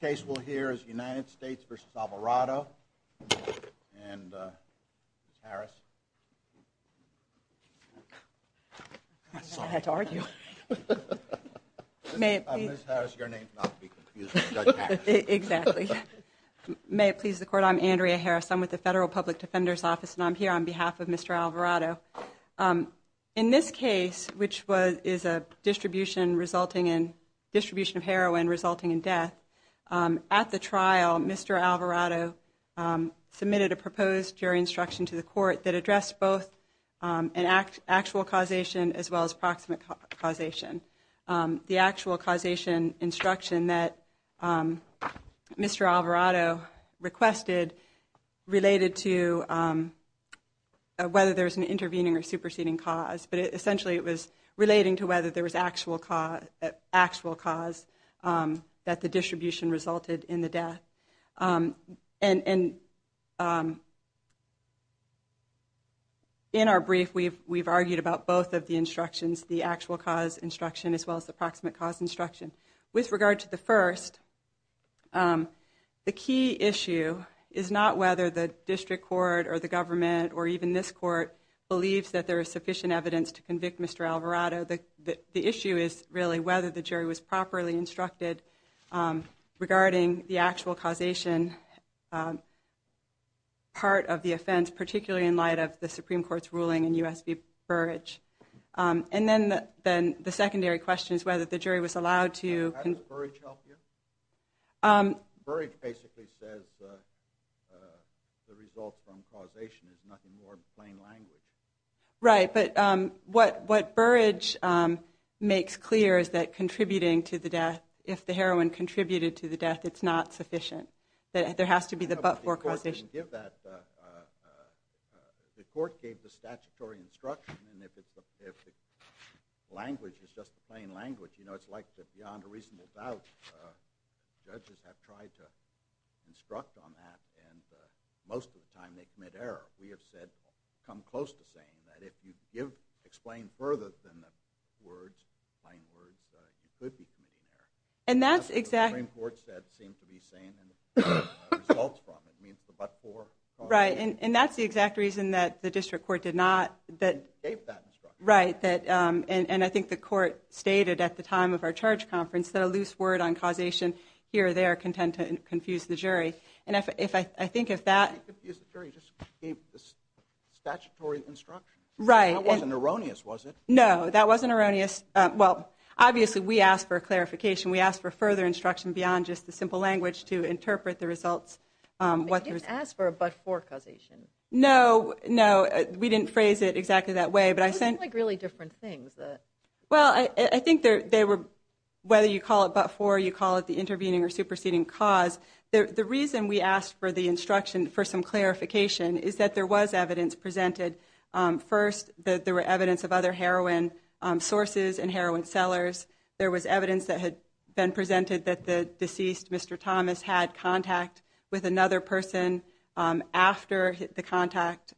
The case we'll hear is United States v. Alvarado. And, uh, Ms. Harris. I'm sorry. I had to argue. I'm Ms. Harris, your name's not to be confused with Judge Harris. May it please the Court, I'm Andrea Harris, I'm with the Federal Public Defender's Office and I'm here on behalf of Mr. Alvarado. Um, in this case which was, is a distribution resulting in, distribution of heroin resulting in death, at the trial Mr. Alvarado submitted a proposed jury instruction to the Court that addressed both an actual causation as well as proximate causation. The actual causation instruction that Mr. Alvarado requested related to whether there's an intervening or superseding cause, but essentially it was relating to whether there was actual cause, actual cause, that the distribution resulted in the death. Um, and in our brief we've argued about both of the instructions, the actual cause instruction as well as the proximate cause instruction. With regard to the first, the key issue is not whether the District Court or the Government or even this Court believes that there is sufficient evidence to convict Mr. Alvarado. The issue is really whether the jury was properly instructed regarding the actual causation part of the offense, particularly in light of the Supreme Court's ruling in U.S. v. Burrage. And then the secondary question is whether the jury was allowed to... Burrage basically says the result from causation is nothing more than plain language. Right, but what Burrage makes clear is that contributing to the death, if the heroin contributed to the death, it's not sufficient. There has to be the but-for causation. The Court gave the statutory instruction and if the language is just plain language, you know, it's like beyond a reasonable doubt, judges have tried to instruct on that and most of the time they commit error. We have said, come close to saying that if you give, explain further than the words, plain words, you could be committing error. And that's exactly... Supreme Court said it seems to be saying results from, it means the but-for causation. Right, and that's the exact reason that the District Court did not... Gave that instruction. Right, and I think the Court stated at the time of our charge conference that a loose word on causation here or there can tend to confuse the jury. And I think if that... I think the jury just gave the statutory instruction. Right. That wasn't erroneous, was it? No, that wasn't erroneous. Well, obviously we asked for a clarification. We asked for further instruction beyond just the simple language to interpret the results. But you didn't ask for a but-for causation. No, no, we didn't phrase it exactly that way, but I sent... Those seem like really different things. Well, I think they were whether you call it but-for or you call it the intervening or superseding cause, the reason we asked for the instruction for some clarification is that there was evidence presented. First, there were evidence of other heroin sources and heroin sellers. There was evidence that had been presented that the deceased, Mr. Thomas, had contact with another person after the contact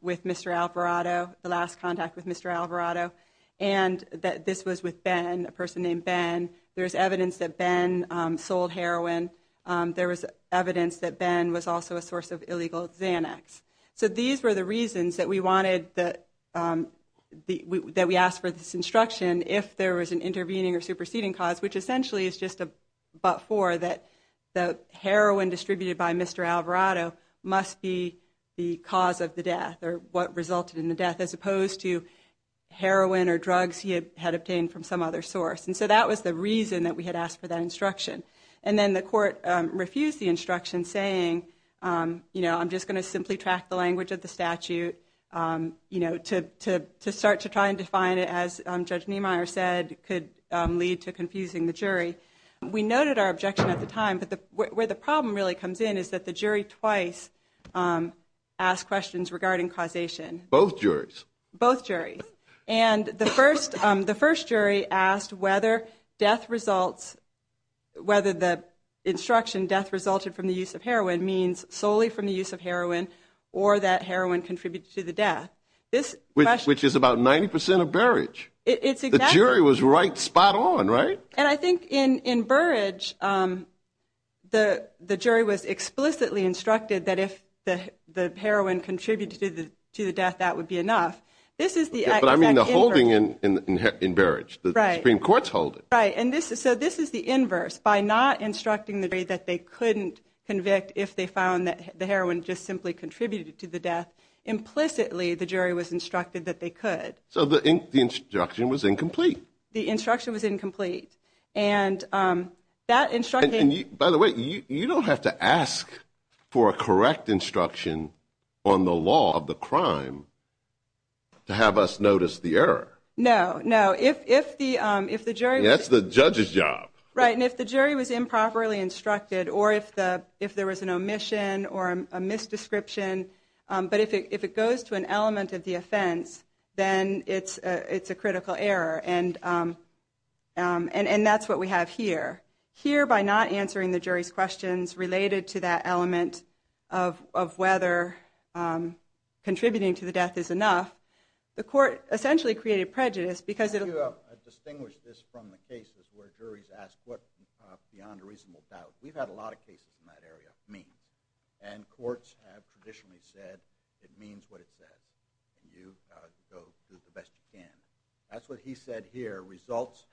with Mr. Alvarado, the last contact with Mr. Alvarado, and that this was with Ben, a person named Ben. There's evidence that Ben sold heroin. There was evidence that Ben was also a source of illegal Xanax. So these were the reasons that we wanted that we asked for this instruction if there was an intervening or superseding cause, which essentially is just a but-for that the heroin distributed by Mr. Alvarado must be the cause of the death or what resulted in the death, as opposed to heroin or drugs he had obtained from some other source. And so that was the reason that we had asked for that instruction. And then the court refused the instruction saying, you know, I'm just going to simply track the language of the statute, you know, to start to try and define it as Judge Niemeyer said could lead to confusing the jury. We noted our objection at the time, but where the problem really comes in is that the jury twice asked questions regarding causation. Both juries? Both juries. And the first jury asked whether the instruction death resulted from the use of heroin means solely from the use of heroin or that heroin contributed to the death. Which is about 90% of Berridge. The jury was right spot on, right? And I think in Burridge the jury was explicitly instructed that if the heroin contributed to the death that would be enough. But I mean the holding in Berridge. The Supreme Court's holding. Right. And so this is the inverse. By not instructing the jury that they couldn't convict if they found that the heroin just simply contributed to the death, implicitly the jury was instructed that they could. So the instruction was incomplete. The instruction was incomplete. And that instruction... And by the way, you don't have to ask for a correct instruction on the law of the crime to have us notice the error. No. No. If the jury... That's the judge's job. Right. And if the jury was improperly instructed or if there was an omission or a misdescription, but if it goes to an element of the offense then it's a critical error. And that's what we have here. Here by not answering the jury's questions related to that element of whether contributing to the death is enough, the court essentially created prejudice because... ...distinguish this from the cases where juries ask what beyond a reasonable doubt. We've had a lot of cases in that area of means. And courts have traditionally said it means what it says. And you've got to do the best you can. That's what he said here. Results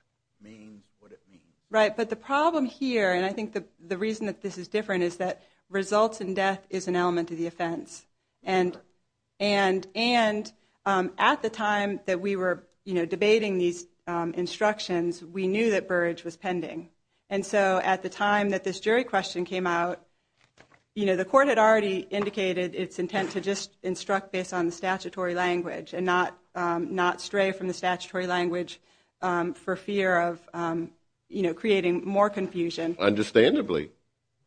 means what it means. Right. But the problem here, and I think the reason that this is different, is that results in death is an element of the offense. And at the time that we were debating these instructions, we knew that Burrage was pending. And so at the time that this jury question came out, the court had already indicated its intent to just instruct based on the statutory language and not stray from the statutory language for fear of creating more confusion. Understandably.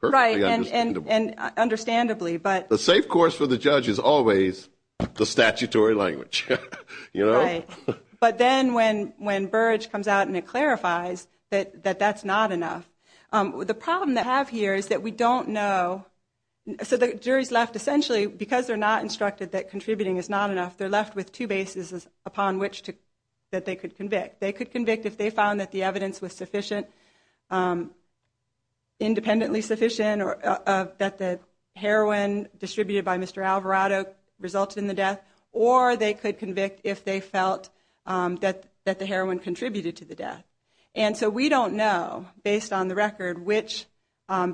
Right. And understandably. The safe course for the judge is always the statutory language. Right. But then when Burrage comes out and it clarifies that that's not enough, the problem that we have here is that we don't know...so the jury's left essentially, because they're not instructed that contributing is not enough, they're left with two bases upon which they could convict. They could convict if they found that the evidence was sufficient independently sufficient or that the heroin distributed by Mr. Alvarado resulted in the death, or they could convict if they felt that the heroin contributed to the death. And so we don't know, based on the record, which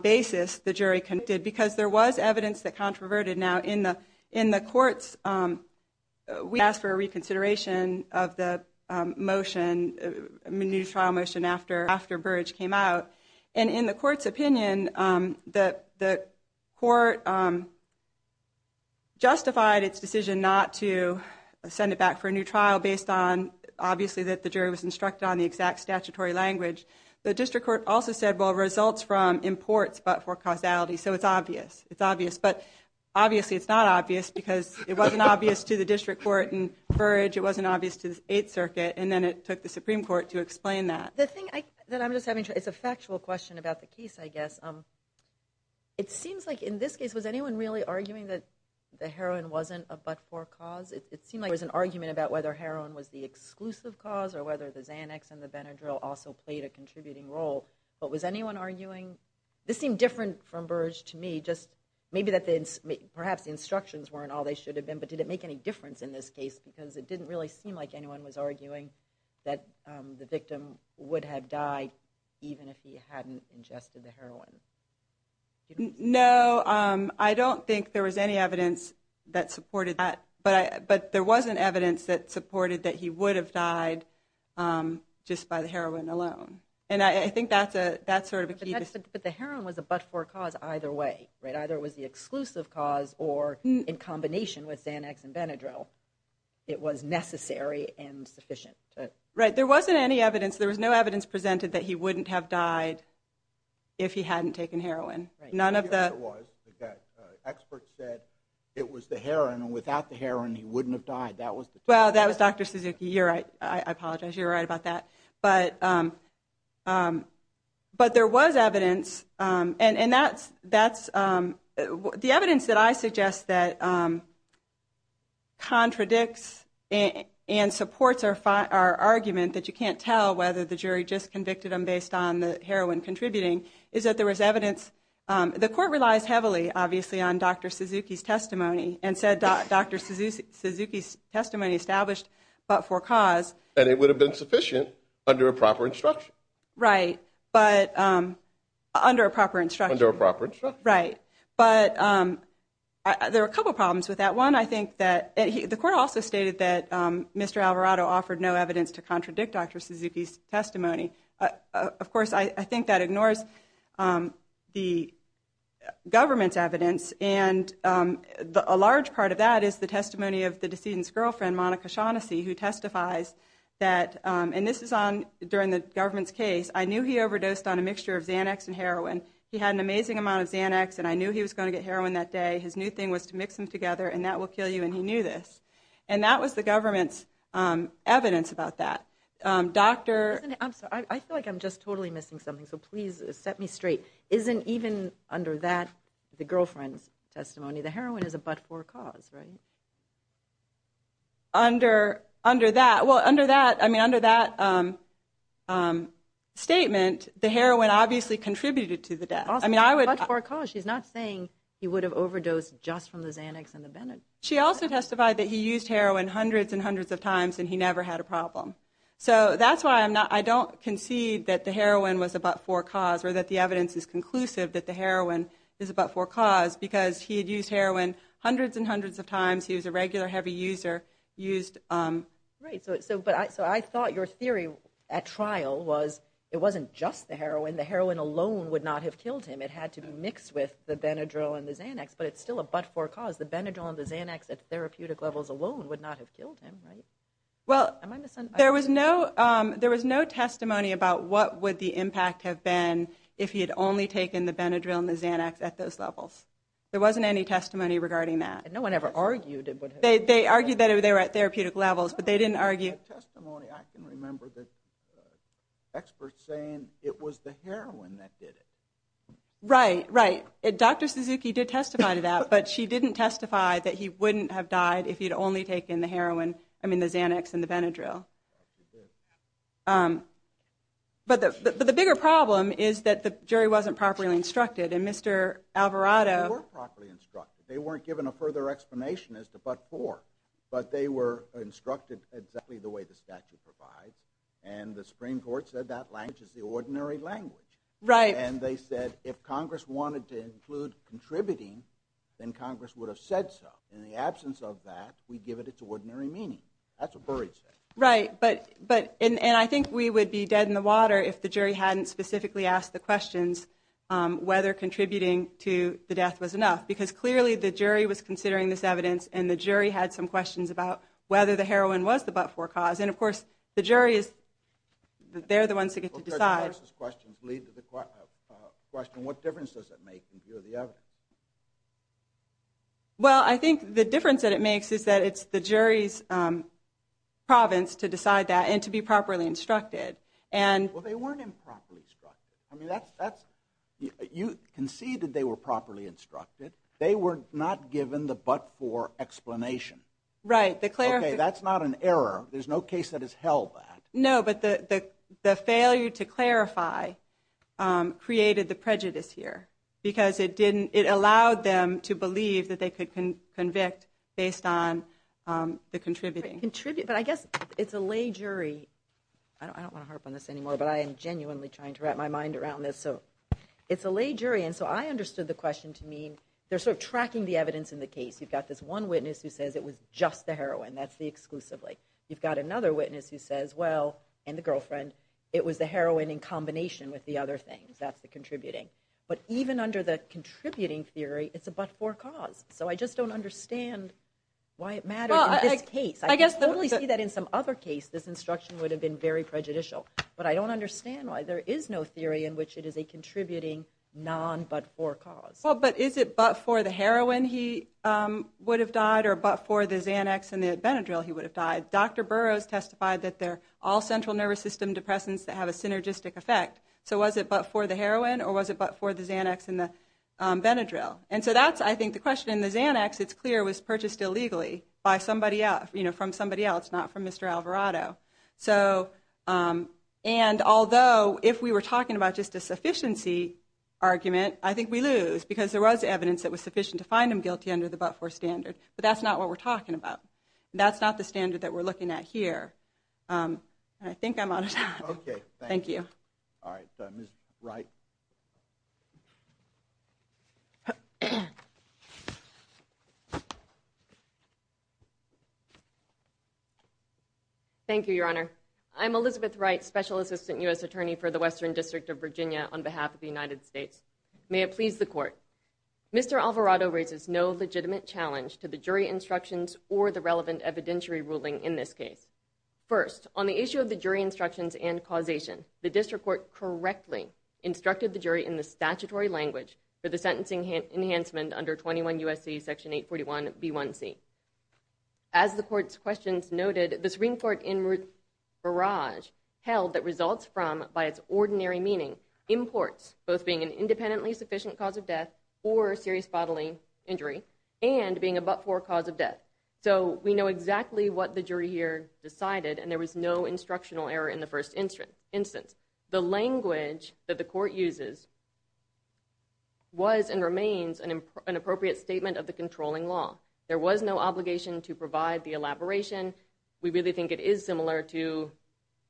basis the jury convicted because there was evidence that controverted. Now in the courts we asked for a reconsideration of the motion a new trial motion after Burrage came out. And in the court's opinion, the court justified its decision not to send it back for a new trial based on, obviously, that the jury was instructed on the exact statutory language. The district court also said, well, results from imports but for causality, so it's obvious. But obviously it's not obvious because it wasn't obvious to the district court and Burrage, it wasn't obvious to the Eighth Circuit, and then it took the Supreme Court to explain that. It's a factual question about the case, I guess. It seems like in this case, was anyone really arguing that the heroin wasn't a but-for cause? It seemed like there was an argument about whether heroin was the exclusive cause or whether the Xanax and the Benadryl also played a contributing role. But was anyone arguing? This seemed different from Burrage to me, just maybe that perhaps the instructions weren't all they should have been, but did it make any difference in this case? Because it didn't really seem like anyone was arguing that the victim would have died even if he hadn't ingested the heroin. No, I don't think there was any evidence that supported that, but there was an evidence that supported that he would have died just by the heroin alone. And I think that's sort of a key... But the heroin was a but-for cause either way, right? Either it was the exclusive cause or in combination with Xanax and Benadryl, it was necessary and sufficient. Right, there wasn't any evidence, there was no evidence presented that he wouldn't have died if he hadn't taken heroin. None of the... Experts said it was the heroin and without the heroin he wouldn't have died. Well, that was Dr. Suzuki, you're right. I apologize, you're right about that. But there was evidence, and that's... The evidence that I suggest that contradicts and supports our argument that you can't tell whether the jury just convicted him based on the heroin contributing is that there was evidence... The court relies heavily, obviously, on Dr. Suzuki's testimony and said Dr. Suzuki's testimony established but-for-cause. And it would have been sufficient under a proper instruction. Right, but... Under a proper instruction. There were a couple problems with that. One, I think that... The court also stated that Mr. Alvarado offered no evidence to contradict Dr. Suzuki's testimony. Of course, I think that ignores the government's evidence and a large part of that is the testimony of the decedent's girlfriend, Monica Shaughnessy, who testifies that... And this is on... During the government's case, I knew he overdosed on a mixture of Xanax and heroin. He had an amazing amount of Xanax and I knew he was going to get heroin that day. His new thing was to mix them together and that will kill you and he knew this. And that was the government's evidence about that. Doctor... I feel like I'm just totally missing something, so please set me straight. Isn't even under that, the girlfriend's testimony, the heroin is a but-for-cause, right? Under that... Well, under that statement, the heroin obviously contributed to the death. She's not saying he would have overdosed just from the Xanax and the Benadryl. She also testified that he used heroin hundreds and hundreds of times and he never had a problem. So that's why I don't concede that the heroin was a but-for-cause or that the evidence is conclusive that the heroin is a but-for-cause because he had used heroin hundreds and hundreds of times, he was a regular heavy user, used... Right, so I thought your theory at trial was it wasn't just the heroin, the heroin alone would not have killed him. It had to be mixed with the Benadryl and the Xanax, but it's still a but-for-cause. The Benadryl and the Xanax at therapeutic levels alone would not have killed him, right? Well, there was no testimony about what would the impact have been if he had only taken the Benadryl and the Xanax at those levels. There wasn't any testimony regarding that. No one ever argued... They argued that they were at therapeutic levels, but they didn't argue... In my testimony, I can remember the experts saying it was the heroin that did it. Right, right. Dr. Suzuki did testify to that, but she didn't testify that he wouldn't have died if he'd only taken the heroin, I mean the Xanax and the Benadryl. But the bigger problem is that the jury wasn't properly instructed, and Mr. Alvarado... They were properly instructed. They weren't given a further explanation as to but-for, but they were instructed exactly the way the statute provides, and the Supreme Court said that language is the ordinary language. And they said if Congress wanted to include contributing, then Congress would have said so. In the absence of that, we give it its ordinary meaning. That's a buried statement. Right, but... And I think we would be dead in the water if the jury hadn't specifically asked the questions whether contributing to the death was enough, because clearly the jury was asked some questions about whether the heroin was the but-for cause, and of course the jury is... They're the ones who get to decide. Well, Judge Harris's questions lead to the question, what difference does it make in view of the evidence? Well, I think the difference that it makes is that it's the jury's province to decide that and to be properly instructed. Well, they weren't improperly instructed. I mean, that's... You conceded they were properly instructed. They were not given the but-for explanation. Right. Okay, that's not an error. There's no case that has held that. No, but the failure to clarify created the prejudice here, because it didn't... It allowed them to believe that they could convict based on the contributing. But I guess it's a lay jury... I don't want to harp on this anymore, but I am genuinely trying to wrap my mind around this. So it's a lay jury, and so I understood the question to mean they're sort of tracking the evidence in the case. You've got this one witness who says it was just the heroin. That's the exclusively. You've got another witness who says, well, and the girlfriend, it was the heroin in combination with the other things. That's the contributing. But even under the contributing theory, it's a but-for cause. So I just don't understand why it mattered in this case. I totally see that in some other case, this instruction would have been very prejudicial. But I don't understand why there is no theory in which it is a contributing non-but-for cause. Well, but is it but-for the heroin he would have died, or but-for the Xanax and the Benadryl he would have died? Dr. Burroughs testified that they're all central nervous system depressants that have a synergistic effect. So was it but-for the heroin, or was it but-for the Xanax and the Benadryl? And so that's I think the question. In the Xanax, it's clear it was purchased illegally by somebody else, from somebody else, not from Mr. Alvarado. And although, if we were talking about just a sufficiency argument, I think we lose, because there was evidence that was sufficient to find him guilty under the but-for standard. But that's not what we're talking about. That's not the standard that we're looking at here. I think I'm out of time. Thank you. All right. Ms. Wright. Thank you, Your Honor. I'm Elizabeth Wright, Special Assistant U.S. Attorney for the Western District of Virginia on behalf of the United States. May it please the Court. Mr. Alvarado raises no legitimate challenge to the jury instructions or the relevant evidentiary ruling in this case. First, on the issue of the jury instructions and causation, the District Court correctly instructed the jury in the statutory language for the sentencing enhancement under 21 USC Section 841b1c. As the Court's questions noted, the Supreme Court in Barrage held that results from, by its ordinary meaning, imports, both being an independently sufficient cause of death or serious bodily injury, and being a but-for cause of death. So we know exactly what the jury here decided, and there was no instructional error in the first instance. The language that the Court uses was and remains an appropriate statement of the controlling law. There was no obligation to provide the elaboration. We really think it is similar to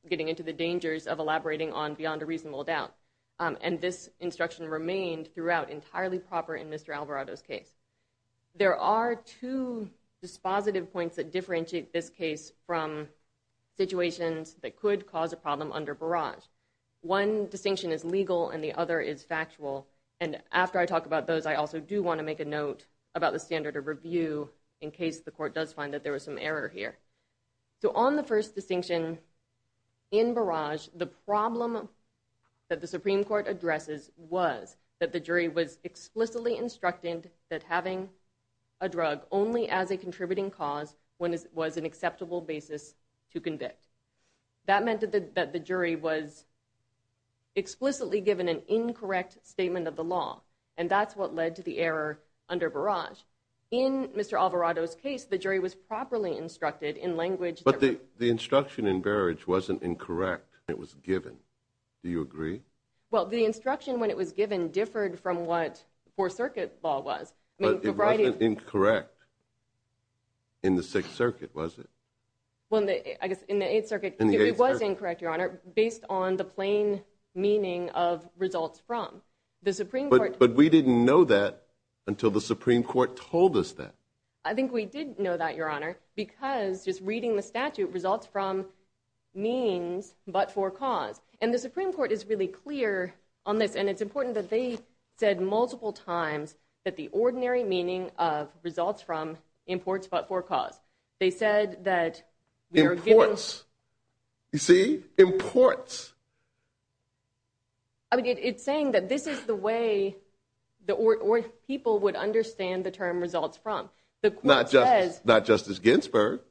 getting into the dangers of elaborating on beyond a reasonable doubt. And this instruction remained throughout entirely proper in Mr. Alvarado's case. There are two dispositive points that differentiate this case from situations that could cause a problem under Barrage. One distinction is legal, and the other is factual. And after I talk about those, I also do want to make a note about the standard of review in case the Court does find that there was some error here. So on the first distinction in Barrage, the problem that the Supreme Court addresses was that the jury was explicitly instructed that having a drug only as a contributing cause was an acceptable basis to convict. That meant that the jury was explicitly given an incorrect statement of the law, and that's what led to the error under Barrage. In Mr. Alvarado's case, the jury was properly instructed in language that... But the instruction in Barrage wasn't incorrect. It was given. Do you agree? Well, the instruction when it was given differed from what Fourth Circuit law was. But it wasn't incorrect in the Sixth Circuit, was it? Well, I guess in the Eighth Circuit, it was incorrect, Your Honor, based on the plain meaning of results from. But we didn't know that until the Supreme Court told us that. I think we did know that, Your Honor, because just reading the statute, results from means but for cause. And the Supreme Court is really clear on this, and it's important that they said multiple times that the ordinary meaning of results from imports but for cause. They said that... Imports. You see? Imports. I mean, it's saying that this is the way people would understand the term results from. Not Justice Ginsburg.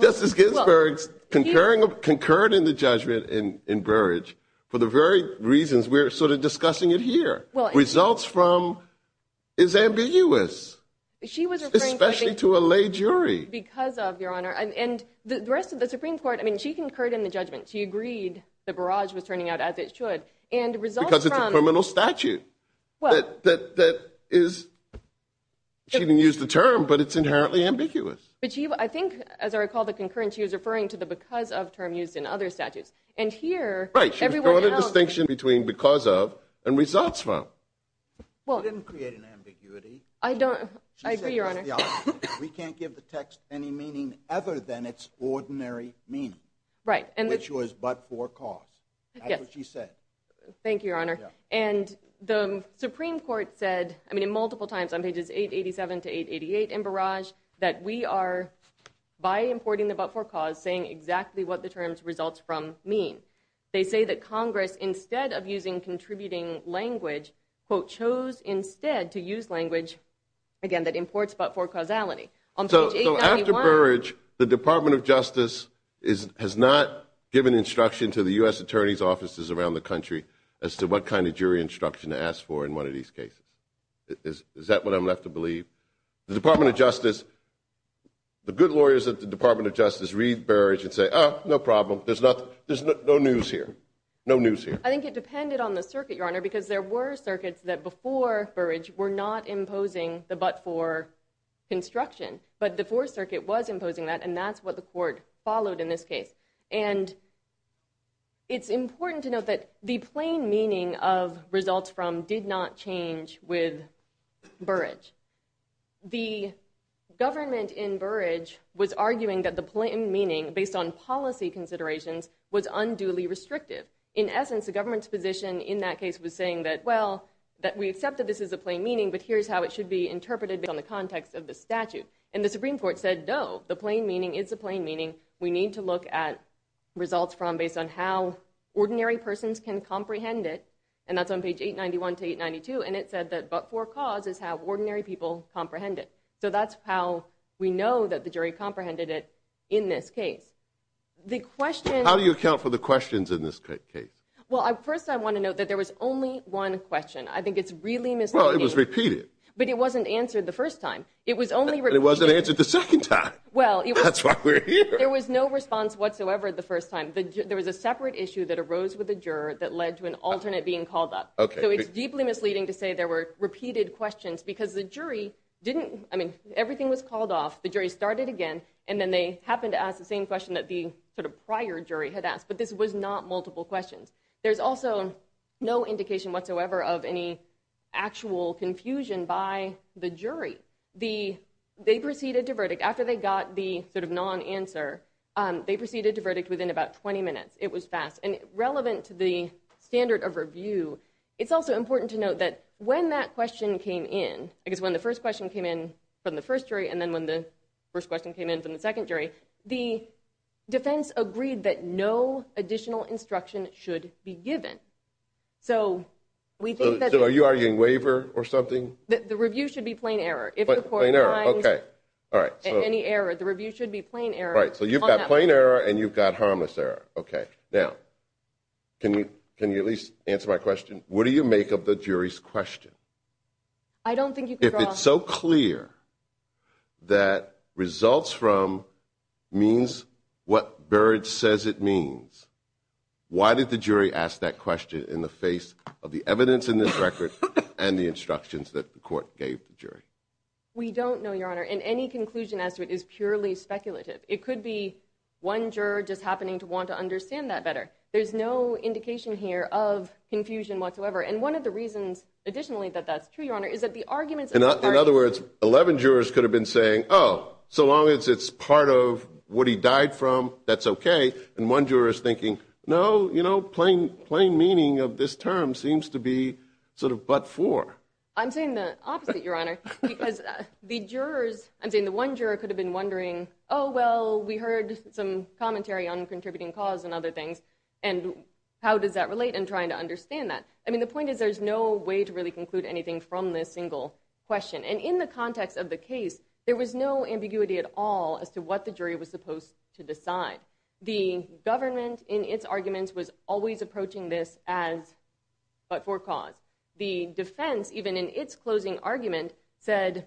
Justice Ginsburg concurred in the judgment in the Supreme Court. And she was referring to... Because of, Your Honor. And the rest of the Supreme Court, I mean, she concurred in the judgment. She agreed the Barrage was turning out as it should. Because it's a criminal statute. She didn't use the term, but it's inherently ambiguous. I think, as I recall the concurrence, she was referring to the because of term used in other statutes. Right. She was drawing a distinction between because of and results from. She didn't create an ambiguity. I agree, Your Honor. We can't give the text any meaning other than its ordinary meaning, which was but for cause. That's what she said. Thank you, Your Honor. And the Supreme Court said, I mean, multiple times on pages 887 to 888 in Barrage, that we are, by importing the but for cause, saying exactly what the terms results from mean. They say that Congress, instead of using contributing language, quote, chose instead to use language, again, that imports but for causality. So after Barrage, the Department of Justice has not given instruction to the U.S. Attorney's offices around the country as to what kind of jury instruction to ask for in one of these cases. Is that what I'm left to believe? The Department of Justice, the good lawyers at the Department of Justice read Barrage and say, oh, no problem. There's no news here. No news here. I think it depended on the circuit, Your Honor, because there were circuits that, before Barrage, were not imposing the but for construction. But the Fourth Circuit was imposing that, and that's what the Court followed in this case. And it's important to note that the plain meaning of results from did not change with Barrage. The government in Barrage was arguing that the plain meaning, based on policy considerations, was unduly restrictive. In essence, the government's position in that case was saying that, well, that we accept that this is a plain meaning, but here's how it should be interpreted based on the context of the statute. And the Supreme Court said, no, the plain meaning is a plain meaning. We need to look at results from based on how ordinary persons can comprehend it, and that's on page 891 to 892, and it said that but for cause is how ordinary people comprehend it. So that's how we know that the jury comprehended it in this case. How do you account for the questions in this case? Well, first I want to note that there was only one question. I think it's really misleading. Well, it was repeated. But it wasn't answered the first time. It was only repeated. And it wasn't answered the second time. That's why we're here. There was no response whatsoever the first time. There was a separate issue that arose with the juror that led to an alternate being called up. So it's deeply misleading to say there were didn't, I mean, everything was called off, the jury started again, and then they happened to ask the same question that the prior jury had asked. But this was not multiple questions. There's also no indication whatsoever of any actual confusion by the jury. They proceeded to verdict. After they got the non-answer, they proceeded to verdict within about 20 minutes. It was fast. And relevant to the standard of review, it's also important to note that when that question came in, because when the first question came in from the first jury, and then when the first question came in from the second jury, the defense agreed that no additional instruction should be given. So are you arguing waiver or something? The review should be plain error. If the court finds any error, the review should be plain error. So you've got plain error and you've got harmless error. Now, can you at least answer my question? What do you make of the jury's question? If it's so clear that results from means what Burrage says it means, why did the jury ask that question in the face of the evidence in this record and the instructions that the court gave the jury? We don't know, Your Honor. And any conclusion as to it is purely speculative. It could be one juror just happening to want to understand that better. There's no indication here of confusion whatsoever. And one of the reasons, additionally, that that's true, Your Honor, is that the arguments are... In other words, 11 jurors could have been saying, oh, so long as it's part of what he died from, that's okay. And one juror is thinking, no, plain meaning of this term seems to be sort of but for. I'm saying the opposite, Your Honor, because the jurors, I'm saying the one juror could have been wondering, oh, well, we heard some commentary on contributing cause and other things, and how does that relate? And trying to understand that. I mean, the point is there's no way to really conclude anything from this single question. And in the context of the case, there was no ambiguity at all as to what the jury was supposed to decide. The government, in its arguments, was always approaching this as but for cause. The defense, even in its closing argument, said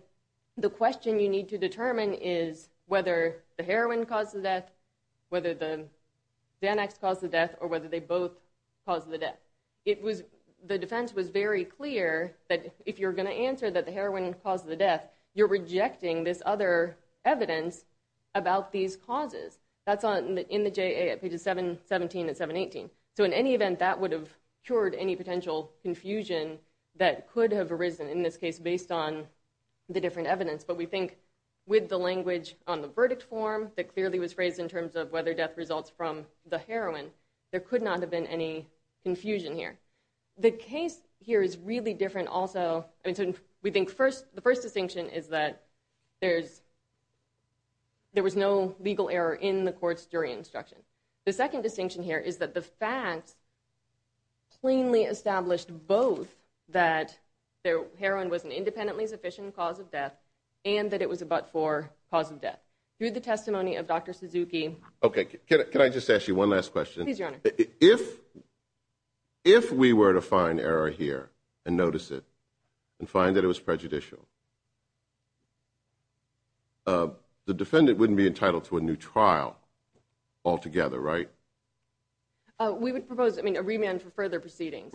the question you need to determine is whether the heroin caused the death, whether the Xanax caused the death, or whether they both caused the death. The defense was very clear that if you're going to answer that the heroin caused the death, you're rejecting this other evidence about these causes. That's in the J.A. at pages 717 and 718. So in any event, that would have cured any potential confusion that could have arisen in this case based on the different evidence. But we think with the language on the verdict form that clearly was phrased in terms of whether death results from the heroin, there could not have been any confusion here. The case here is really different also. We think the first distinction is that there was no legal error in the court's jury instruction. The second distinction here is that the facts plainly established both that heroin was an independently sufficient cause of death and that it was a but-for cause of death. Through the testimony of Dr. Suzuki Can I just ask you one last question? If we were to find error here and notice it and find that it was prejudicial, the defendant wouldn't be entitled to a new trial altogether, right? We would propose a remand for further proceedings.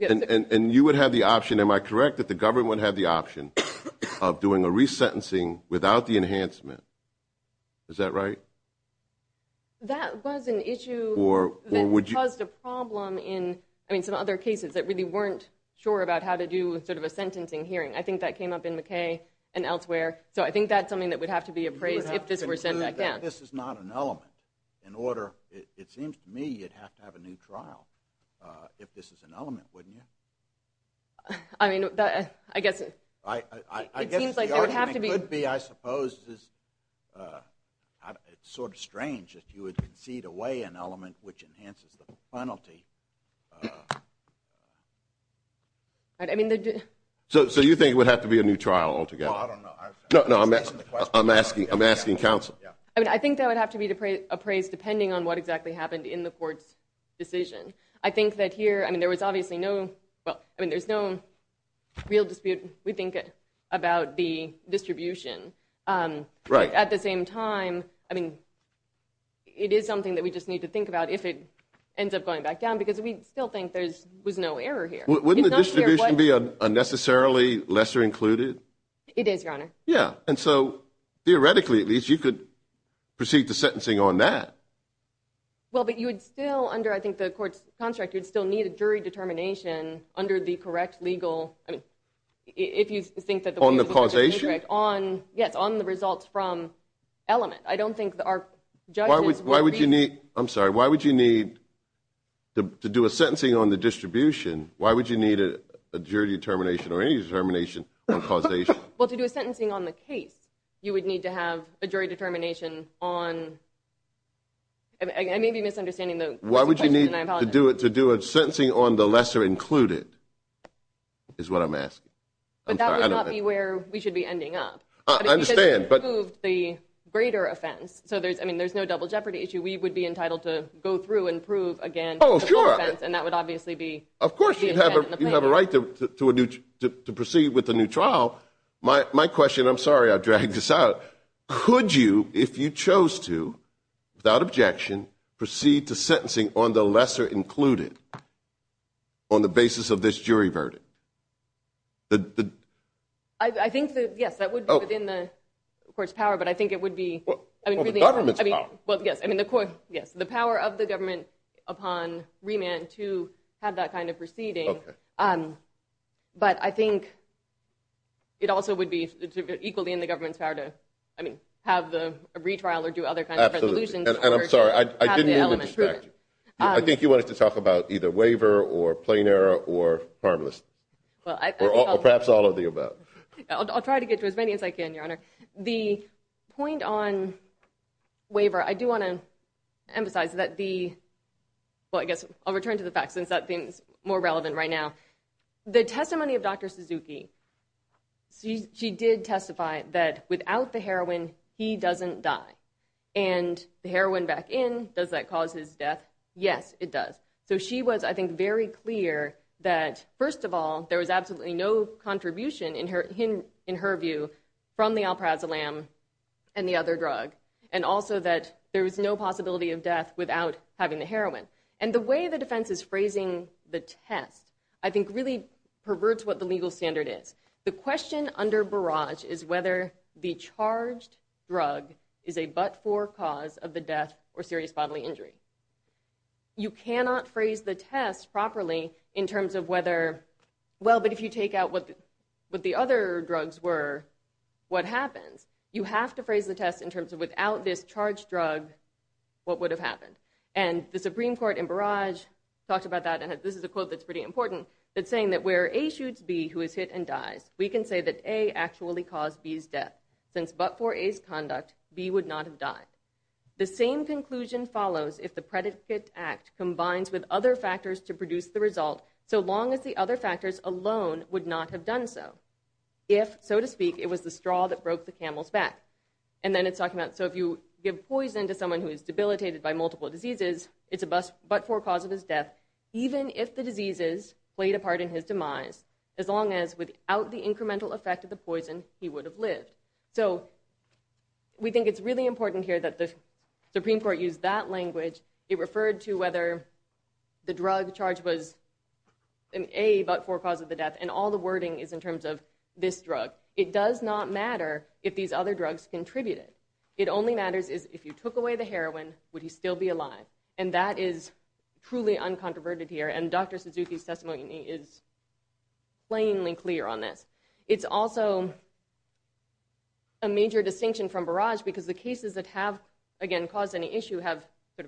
And you would have the option, am I correct, that the government would have the option of doing a resentencing without the enhancement? Is that right? That was an issue that caused a problem in some other cases that really weren't sure about how to do a sentencing hearing. I think that came up in McKay and elsewhere. So I think that's something that would have to be appraised if this were sent back down. This is not an element. It seems to me you'd have to have a new trial if this is an element, wouldn't you? I mean, I guess I guess the argument could be, I suppose, it's sort of strange if you would concede away an element which enhances the penalty. So you think it would have to be a new trial altogether? No, I'm asking counsel. I think that would have to be appraised depending on what exactly happened in the court's decision. I think that here, I mean, there was obviously no, well, I mean, there's no real dispute, we think, about the distribution. At the same time, I mean, it is something that we just need to think about if it ends up going back down because we still think there was no error here. Wouldn't the distribution be unnecessarily lesser included? It is, Your Honor. Yeah. And so, theoretically at least, you could proceed to sentencing on that. Well, but you would still, under, I think, the court's construct, you would still need a jury determination under the correct legal, I mean, if you think that the view is correct. On the causation? Yes, on the results from element. I don't think our judges would reason. Why would you need, I'm sorry, why would you need, to do a sentencing on the distribution, why would you need a jury determination or any determination on causation? Well, to do a sentencing on the case, you would need to have a jury determination on, I may be misunderstanding the question, and I apologize. Why would you need to do a sentencing on the lesser included is what I'm asking. But that would not be where we should be ending up. I understand, but. Because you proved the greater offense, so there's, I mean, there's no double jeopardy issue. We would be entitled to go through and prove again the full offense. Oh, sure. And that would obviously be. Of course, you have a right to proceed with the new trial. My question, I'm sorry I dragged this out, but could you, if you chose to, without objection, proceed to sentencing on the lesser included on the basis of this jury verdict? I think that, yes, that would be within the court's power, but I think it would be. Well, the government's power. Well, yes, I mean, yes, the power of the government upon remand to have that kind of proceeding. But I think it also would be equally in the government's power to, I mean, have the retrial or do other kinds of resolutions. And I'm sorry, I didn't mean to distract you. I think you wanted to talk about either waiver or plain error or harmless. Or perhaps all of the above. I'll try to get to as many as I can, Your Honor. The point on waiver, I do want to emphasize that the, well, I guess I'll return to the facts since that thing's more relevant right now. The testimony of Dr. Suzuki, she did testify that without the heroin he doesn't die. And the heroin back in, does that cause his death? Yes, it does. So she was, I think, very clear that, first of all, there was absolutely no contribution in her view from the Alprazolam and the other drug. And also that there was no possibility of death without having the heroin. And the way the defense is phrasing the test, I think, really perverts what the legal standard is. The question under Barrage is whether the charged drug is a but-for cause of the death or serious bodily injury. You cannot phrase the test properly in terms of whether, well, but if you take out what the other drugs were, what happens? You have to phrase the test in terms of without this charged drug what would have happened. And the Supreme Court in Barrage talked about that and this is a quote that's pretty important, that's saying that where A shoots B who is hit and dies we can say that A actually caused B's death. Since but-for A's conduct, B would not have died. The same conclusion follows if the predicate act combines with other factors to produce the result so long as the other factors alone would not have done so. If, so to speak, it was the straw that broke the camel's back. And then it's talking about so if you give poison to someone who is debilitated by multiple diseases, it's a but-for cause of his death even if the diseases played a part in his demise as long as without the incremental effect of the poison he would have lived. So we think it's really important here that the Supreme Court used that language. It referred to whether the drug charge was an A but-for cause of the death and all the wording is in terms of this drug. It does not matter if these other drugs contributed. It only matters is if you took away the heroin would he still be alive? And that is truly uncontroverted here and Dr. Suzuki's testimony is plainly clear on this. It's also a major distinction from Barrage because the cases that have, again, caused any issue have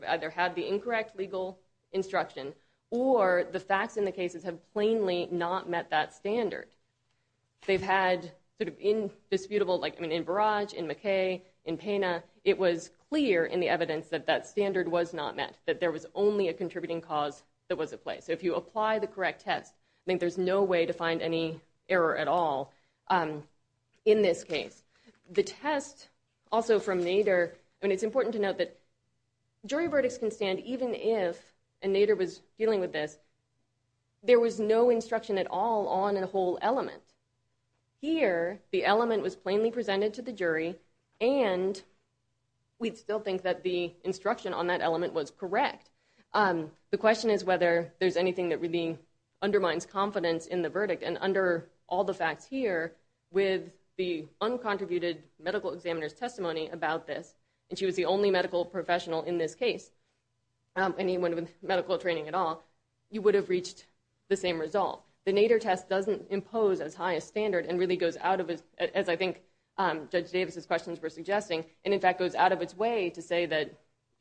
either had the incorrect legal instruction or the facts in the cases have plainly not met that standard. They've had sort of indisputable, like in Barrage, in McKay, in Pena it was clear in the evidence that that standard was not met, that there was only a contributing cause that was in play. So if you apply the correct test there's no way to find any error at all in this case. The test also from Nader, and it's important to note that jury verdicts can stand even if, and Nader was dealing with this, there was no instruction at all on the whole element. Here the element was plainly presented to the jury and we'd still think that the instruction on that element was correct. The question is whether there's anything that really undermines confidence in the verdict and under all the facts here, with the uncontributed medical examiner's testimony about this, and she was the only medical professional in this case anyone with medical training at all, you would have reached the same result. The Nader test doesn't impose as high a standard and really goes out of, as I think Judge Davis' questions were suggesting, and in fact goes out of its way to say that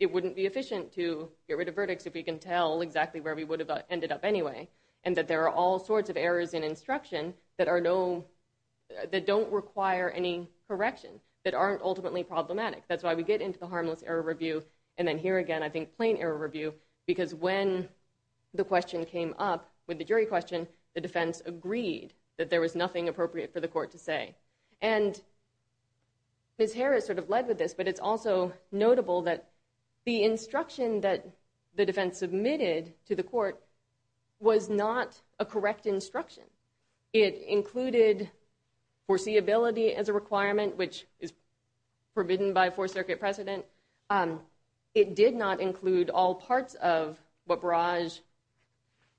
it wouldn't be efficient to get rid of verdicts if we can tell exactly where we would have ended up anyway, and that there are all sorts of errors in instruction that are no, that don't require any correction, that aren't ultimately problematic. That's why we get into the harmless error review, and then here again I think plain error review, because when the question came up, with the jury question, the defense agreed that there was nothing appropriate for the court to say, and Ms. Harris sort of led with this, but it's also notable that the instruction that the defense submitted to the court was not a correct instruction. It included foreseeability as a requirement, which is forbidden by a Fourth Circuit precedent. It did not include all parts of what Barrage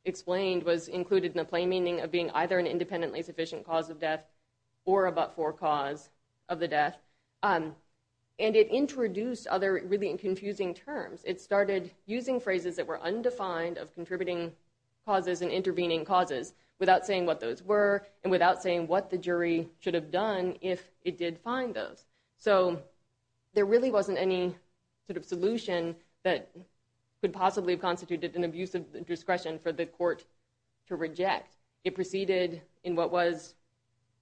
explained was independently sufficient cause of death, or a but-for cause of the death. And it introduced other really confusing terms. It started using phrases that were undefined of contributing causes and intervening causes, without saying what those were, and without saying what the jury should have done if it did find those. So there really wasn't any sort of solution that could possibly have constituted an abuse of discretion for the court to reject. It proceeded in what was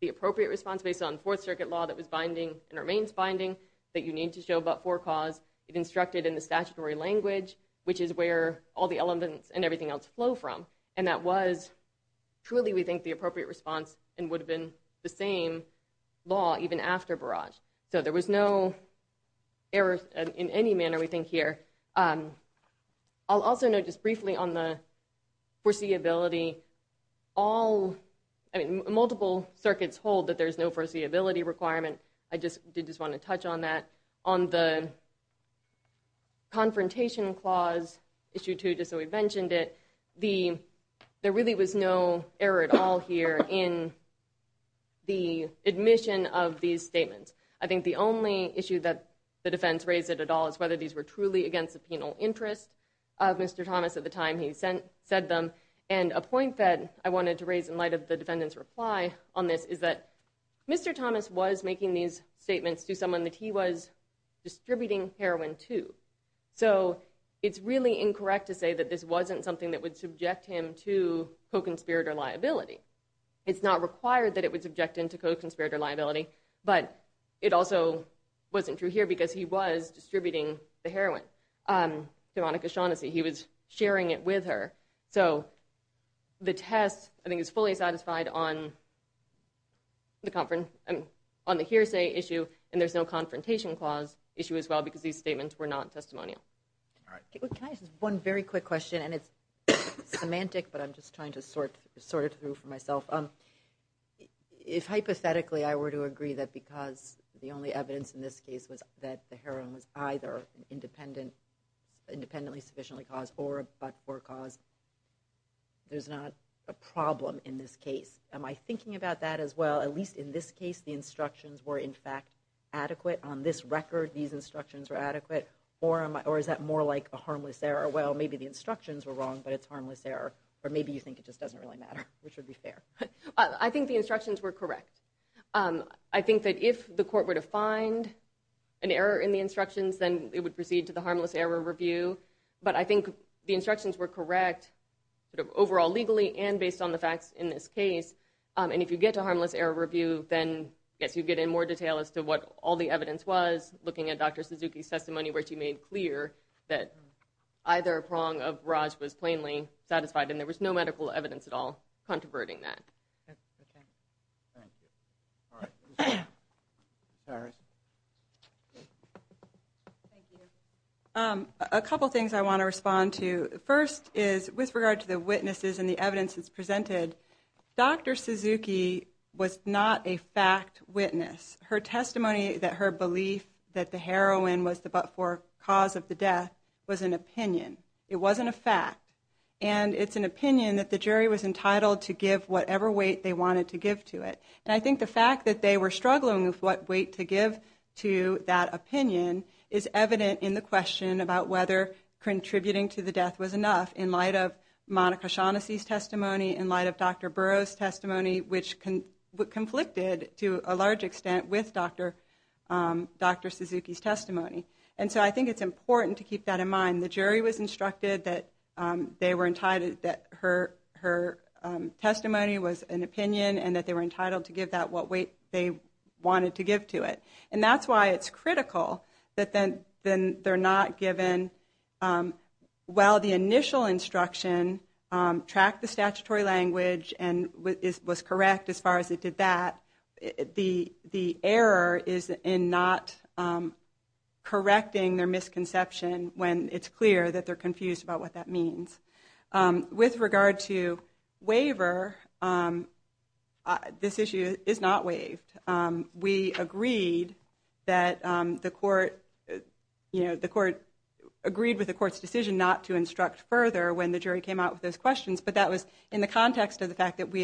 the appropriate response based on Fourth Circuit law that was binding, and remains binding, that you need to show but-for cause. It instructed in the statutory language, which is where all the elements and everything else flow from. And that was truly, we think, the appropriate response, and would have been the same law even after Barrage. So there was no error in any manner, we think, here. I'll also note just briefly on the foreseeability. Multiple circuits hold that there's no foreseeability requirement. I did just want to touch on that. On the Confrontation Clause, Issue 2, just so we've mentioned it, there really was no error at all here in the admission of these statements. I think the only issue that the defense raised at all is whether these were truly against the penal interest of Mr. Thomas at the time he said them. And a point that I wanted to raise in light of the defendant's reply on this is that Mr. Thomas was making these statements to someone that he was distributing heroin to. So it's really incorrect to say that this wasn't something that would subject him to co-conspirator liability. It's not required that it would subject him to co-conspirator liability, but it also wasn't true here because he was sharing it with her. So the test, I think, is fully satisfied on the hearsay issue, and there's no Confrontation Clause issue as well because these statements were not testimonial. One very quick question, and it's semantic, but I'm just trying to sort it through for myself. If hypothetically I were to agree that because the only evidence in this case was that the heroin was either independently sufficiently caused or a but-for cause, there's not a problem in this case. Am I thinking about that as well? At least in this case, the instructions were in fact adequate. On this record, these instructions were adequate. Or is that more like a harmless error? Well, maybe the instructions were wrong, but it's harmless error. Or maybe you think it just doesn't really matter, which would be fair. I think the instructions were correct. I think that if the court were to find an error in the instructions, then it would proceed to the harmless error review. But I think the instructions were correct, sort of overall legally and based on the facts in this case. And if you get to harmless error review, then, yes, you get in more detail as to what all the evidence was, looking at Dr. Suzuki's testimony where she made clear that either prong of Raj was plainly satisfied, and there was no medical evidence at all controverting that. Thank you. A couple things I want to respond to. First is, with regard to the witnesses and the evidence that's presented, Dr. Suzuki was not a fact witness. Her testimony that her belief that the heroin was the but-for cause of the death was an opinion. It wasn't a fact. And it's an opinion that the jury was entitled to whatever weight they wanted to give to it. And I think the fact that they were struggling with what weight to give to that opinion is evident in the question about whether contributing to the death was enough in light of Monica Shaughnessy's testimony, in light of Dr. Burrow's testimony, which conflicted to a large extent with Dr. Suzuki's testimony. And so I think it's important to keep that in mind. The jury was instructed that her testimony was an opinion and that they were entitled to give that what weight they wanted to give to it. And that's why it's critical that they're not given while the initial instruction tracked the statutory language and was correct as far as it did that, the error is in not correcting their misconception when it's clear that they're confused about what that means. With regard to waiver, this issue is not waived. We agreed that the court agreed with the court's decision not to instruct further when the jury came out with those questions. But that was in the context of the fact that we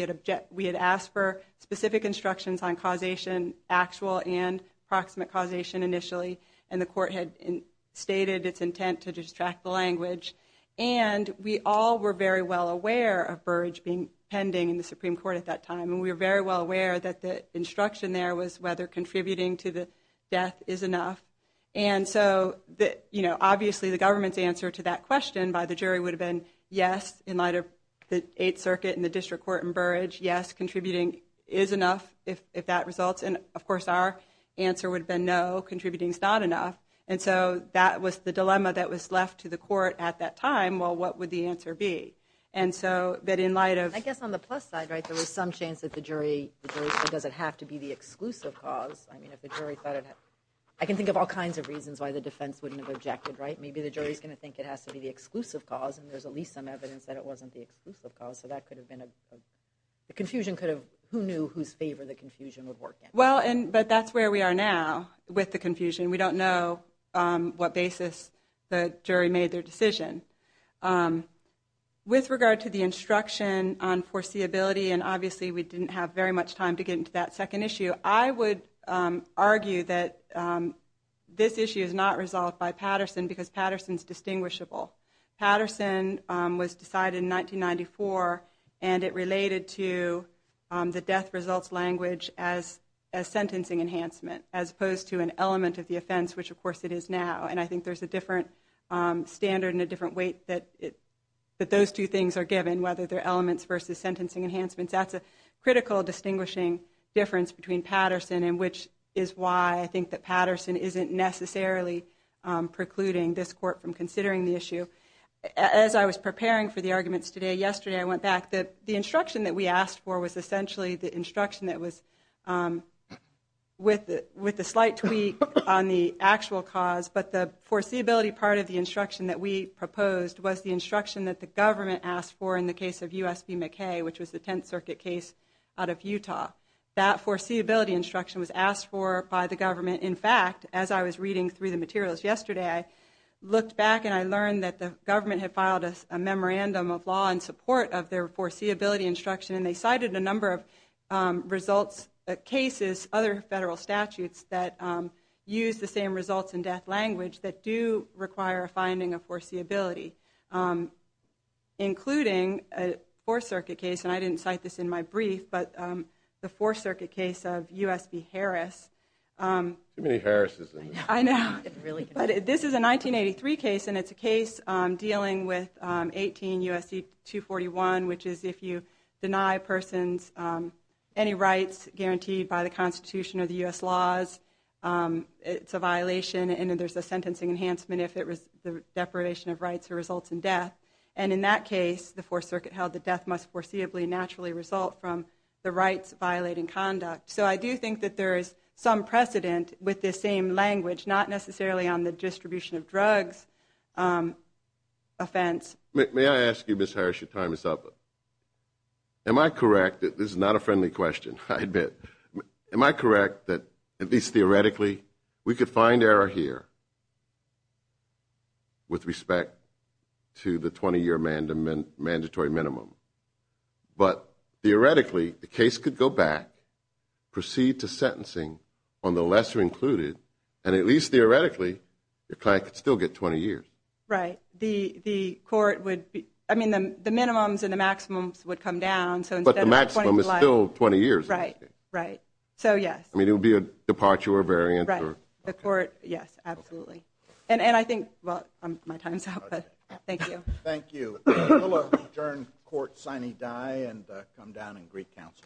had asked for specific instructions on causation, actual and proximate causation initially, and the court had stated its intent to distract the language. And we all were very well aware of Burrage being pending in the Supreme Court at that time. And we were very well aware that the instruction there was whether contributing to the death is enough. And so obviously the government's answer to that question by the jury would have been yes, in light of the Eighth Circuit and the District Court and Burrage, yes, contributing is enough if that results. And of course our answer would have been no, contributing is not enough. And so that was the dilemma that was left to the court at that time. Well, what would the answer be? I guess on the plus side, there was some chance that the jury said, does it have to be the exclusive cause? I can think of all kinds of reasons why the defense wouldn't have objected. Maybe the jury's going to think it has to be the exclusive cause and there's at least some evidence that it wasn't the exclusive cause. Who knew whose favor the confusion would work in? Well, but that's where we are now with the confusion. We don't know what basis the jury made their decision. With regard to the instruction on foreseeability, and obviously we didn't have very much time to get into that second issue, I would argue that this issue is not resolved by Patterson because Patterson's distinguishable. Patterson was decided in 1994 and it related to the death results language as sentencing enhancement, as opposed to an element of the offense, which of course it is now. And I think there's a different standard and a different weight that those two things are given, whether they're elements versus sentencing enhancements. That's a critical distinguishing difference between Patterson and which is why I think that Patterson isn't necessarily precluding this court from considering the issue. As I was preparing for the arguments today, yesterday I went back. The instruction that was with the slight tweak on the actual cause, but the foreseeability part of the instruction that we proposed was the instruction that the government asked for in the case of U.S. v. McKay, which was the Tenth Circuit case out of Utah. That foreseeability instruction was asked for by the government. In fact, as I was reading through the materials yesterday, I looked back and I learned that the government had filed a memorandum of law in support of their foreseeability instruction and they cited a number of results, cases, other federal statutes that use the same results in death language that do require a finding of foreseeability, including a Fourth Circuit case, and I didn't cite this in my brief, but the Fourth Circuit case of U.S. v. Harris. Too many Harris's in there. I know, but this is a 1983 case and it's a case dealing with 18 U.S. v. 241, which is if you deny persons any rights guaranteed by the Constitution or the U.S. laws, it's a violation and there's a sentencing enhancement if the deprivation of rights results in death, and in that case, the Fourth Circuit held that death must foreseeably naturally result from the rights violating conduct. So I do think that there is some precedent with this same language, not necessarily on the distribution of drugs offense. May I ask you, Ms. Harris, your time is up. Am I correct that this is not a friendly question, I admit. Am I correct that at least theoretically, we could find error here with respect to the 20-year mandatory minimum, but theoretically, the case could go back, proceed to sentencing on the lesser included, and at least theoretically, your client could still get 20 years. Right. The court would, I mean, the minimums and the maximums would come down. But the maximum is still 20 years. Right. Right. So, yes. I mean, it would be a departure or variance. Right. The court, yes, absolutely. And I think, well, my time's up, but thank you. Thank you. We'll adjourn court sine die and come down in Greek Council.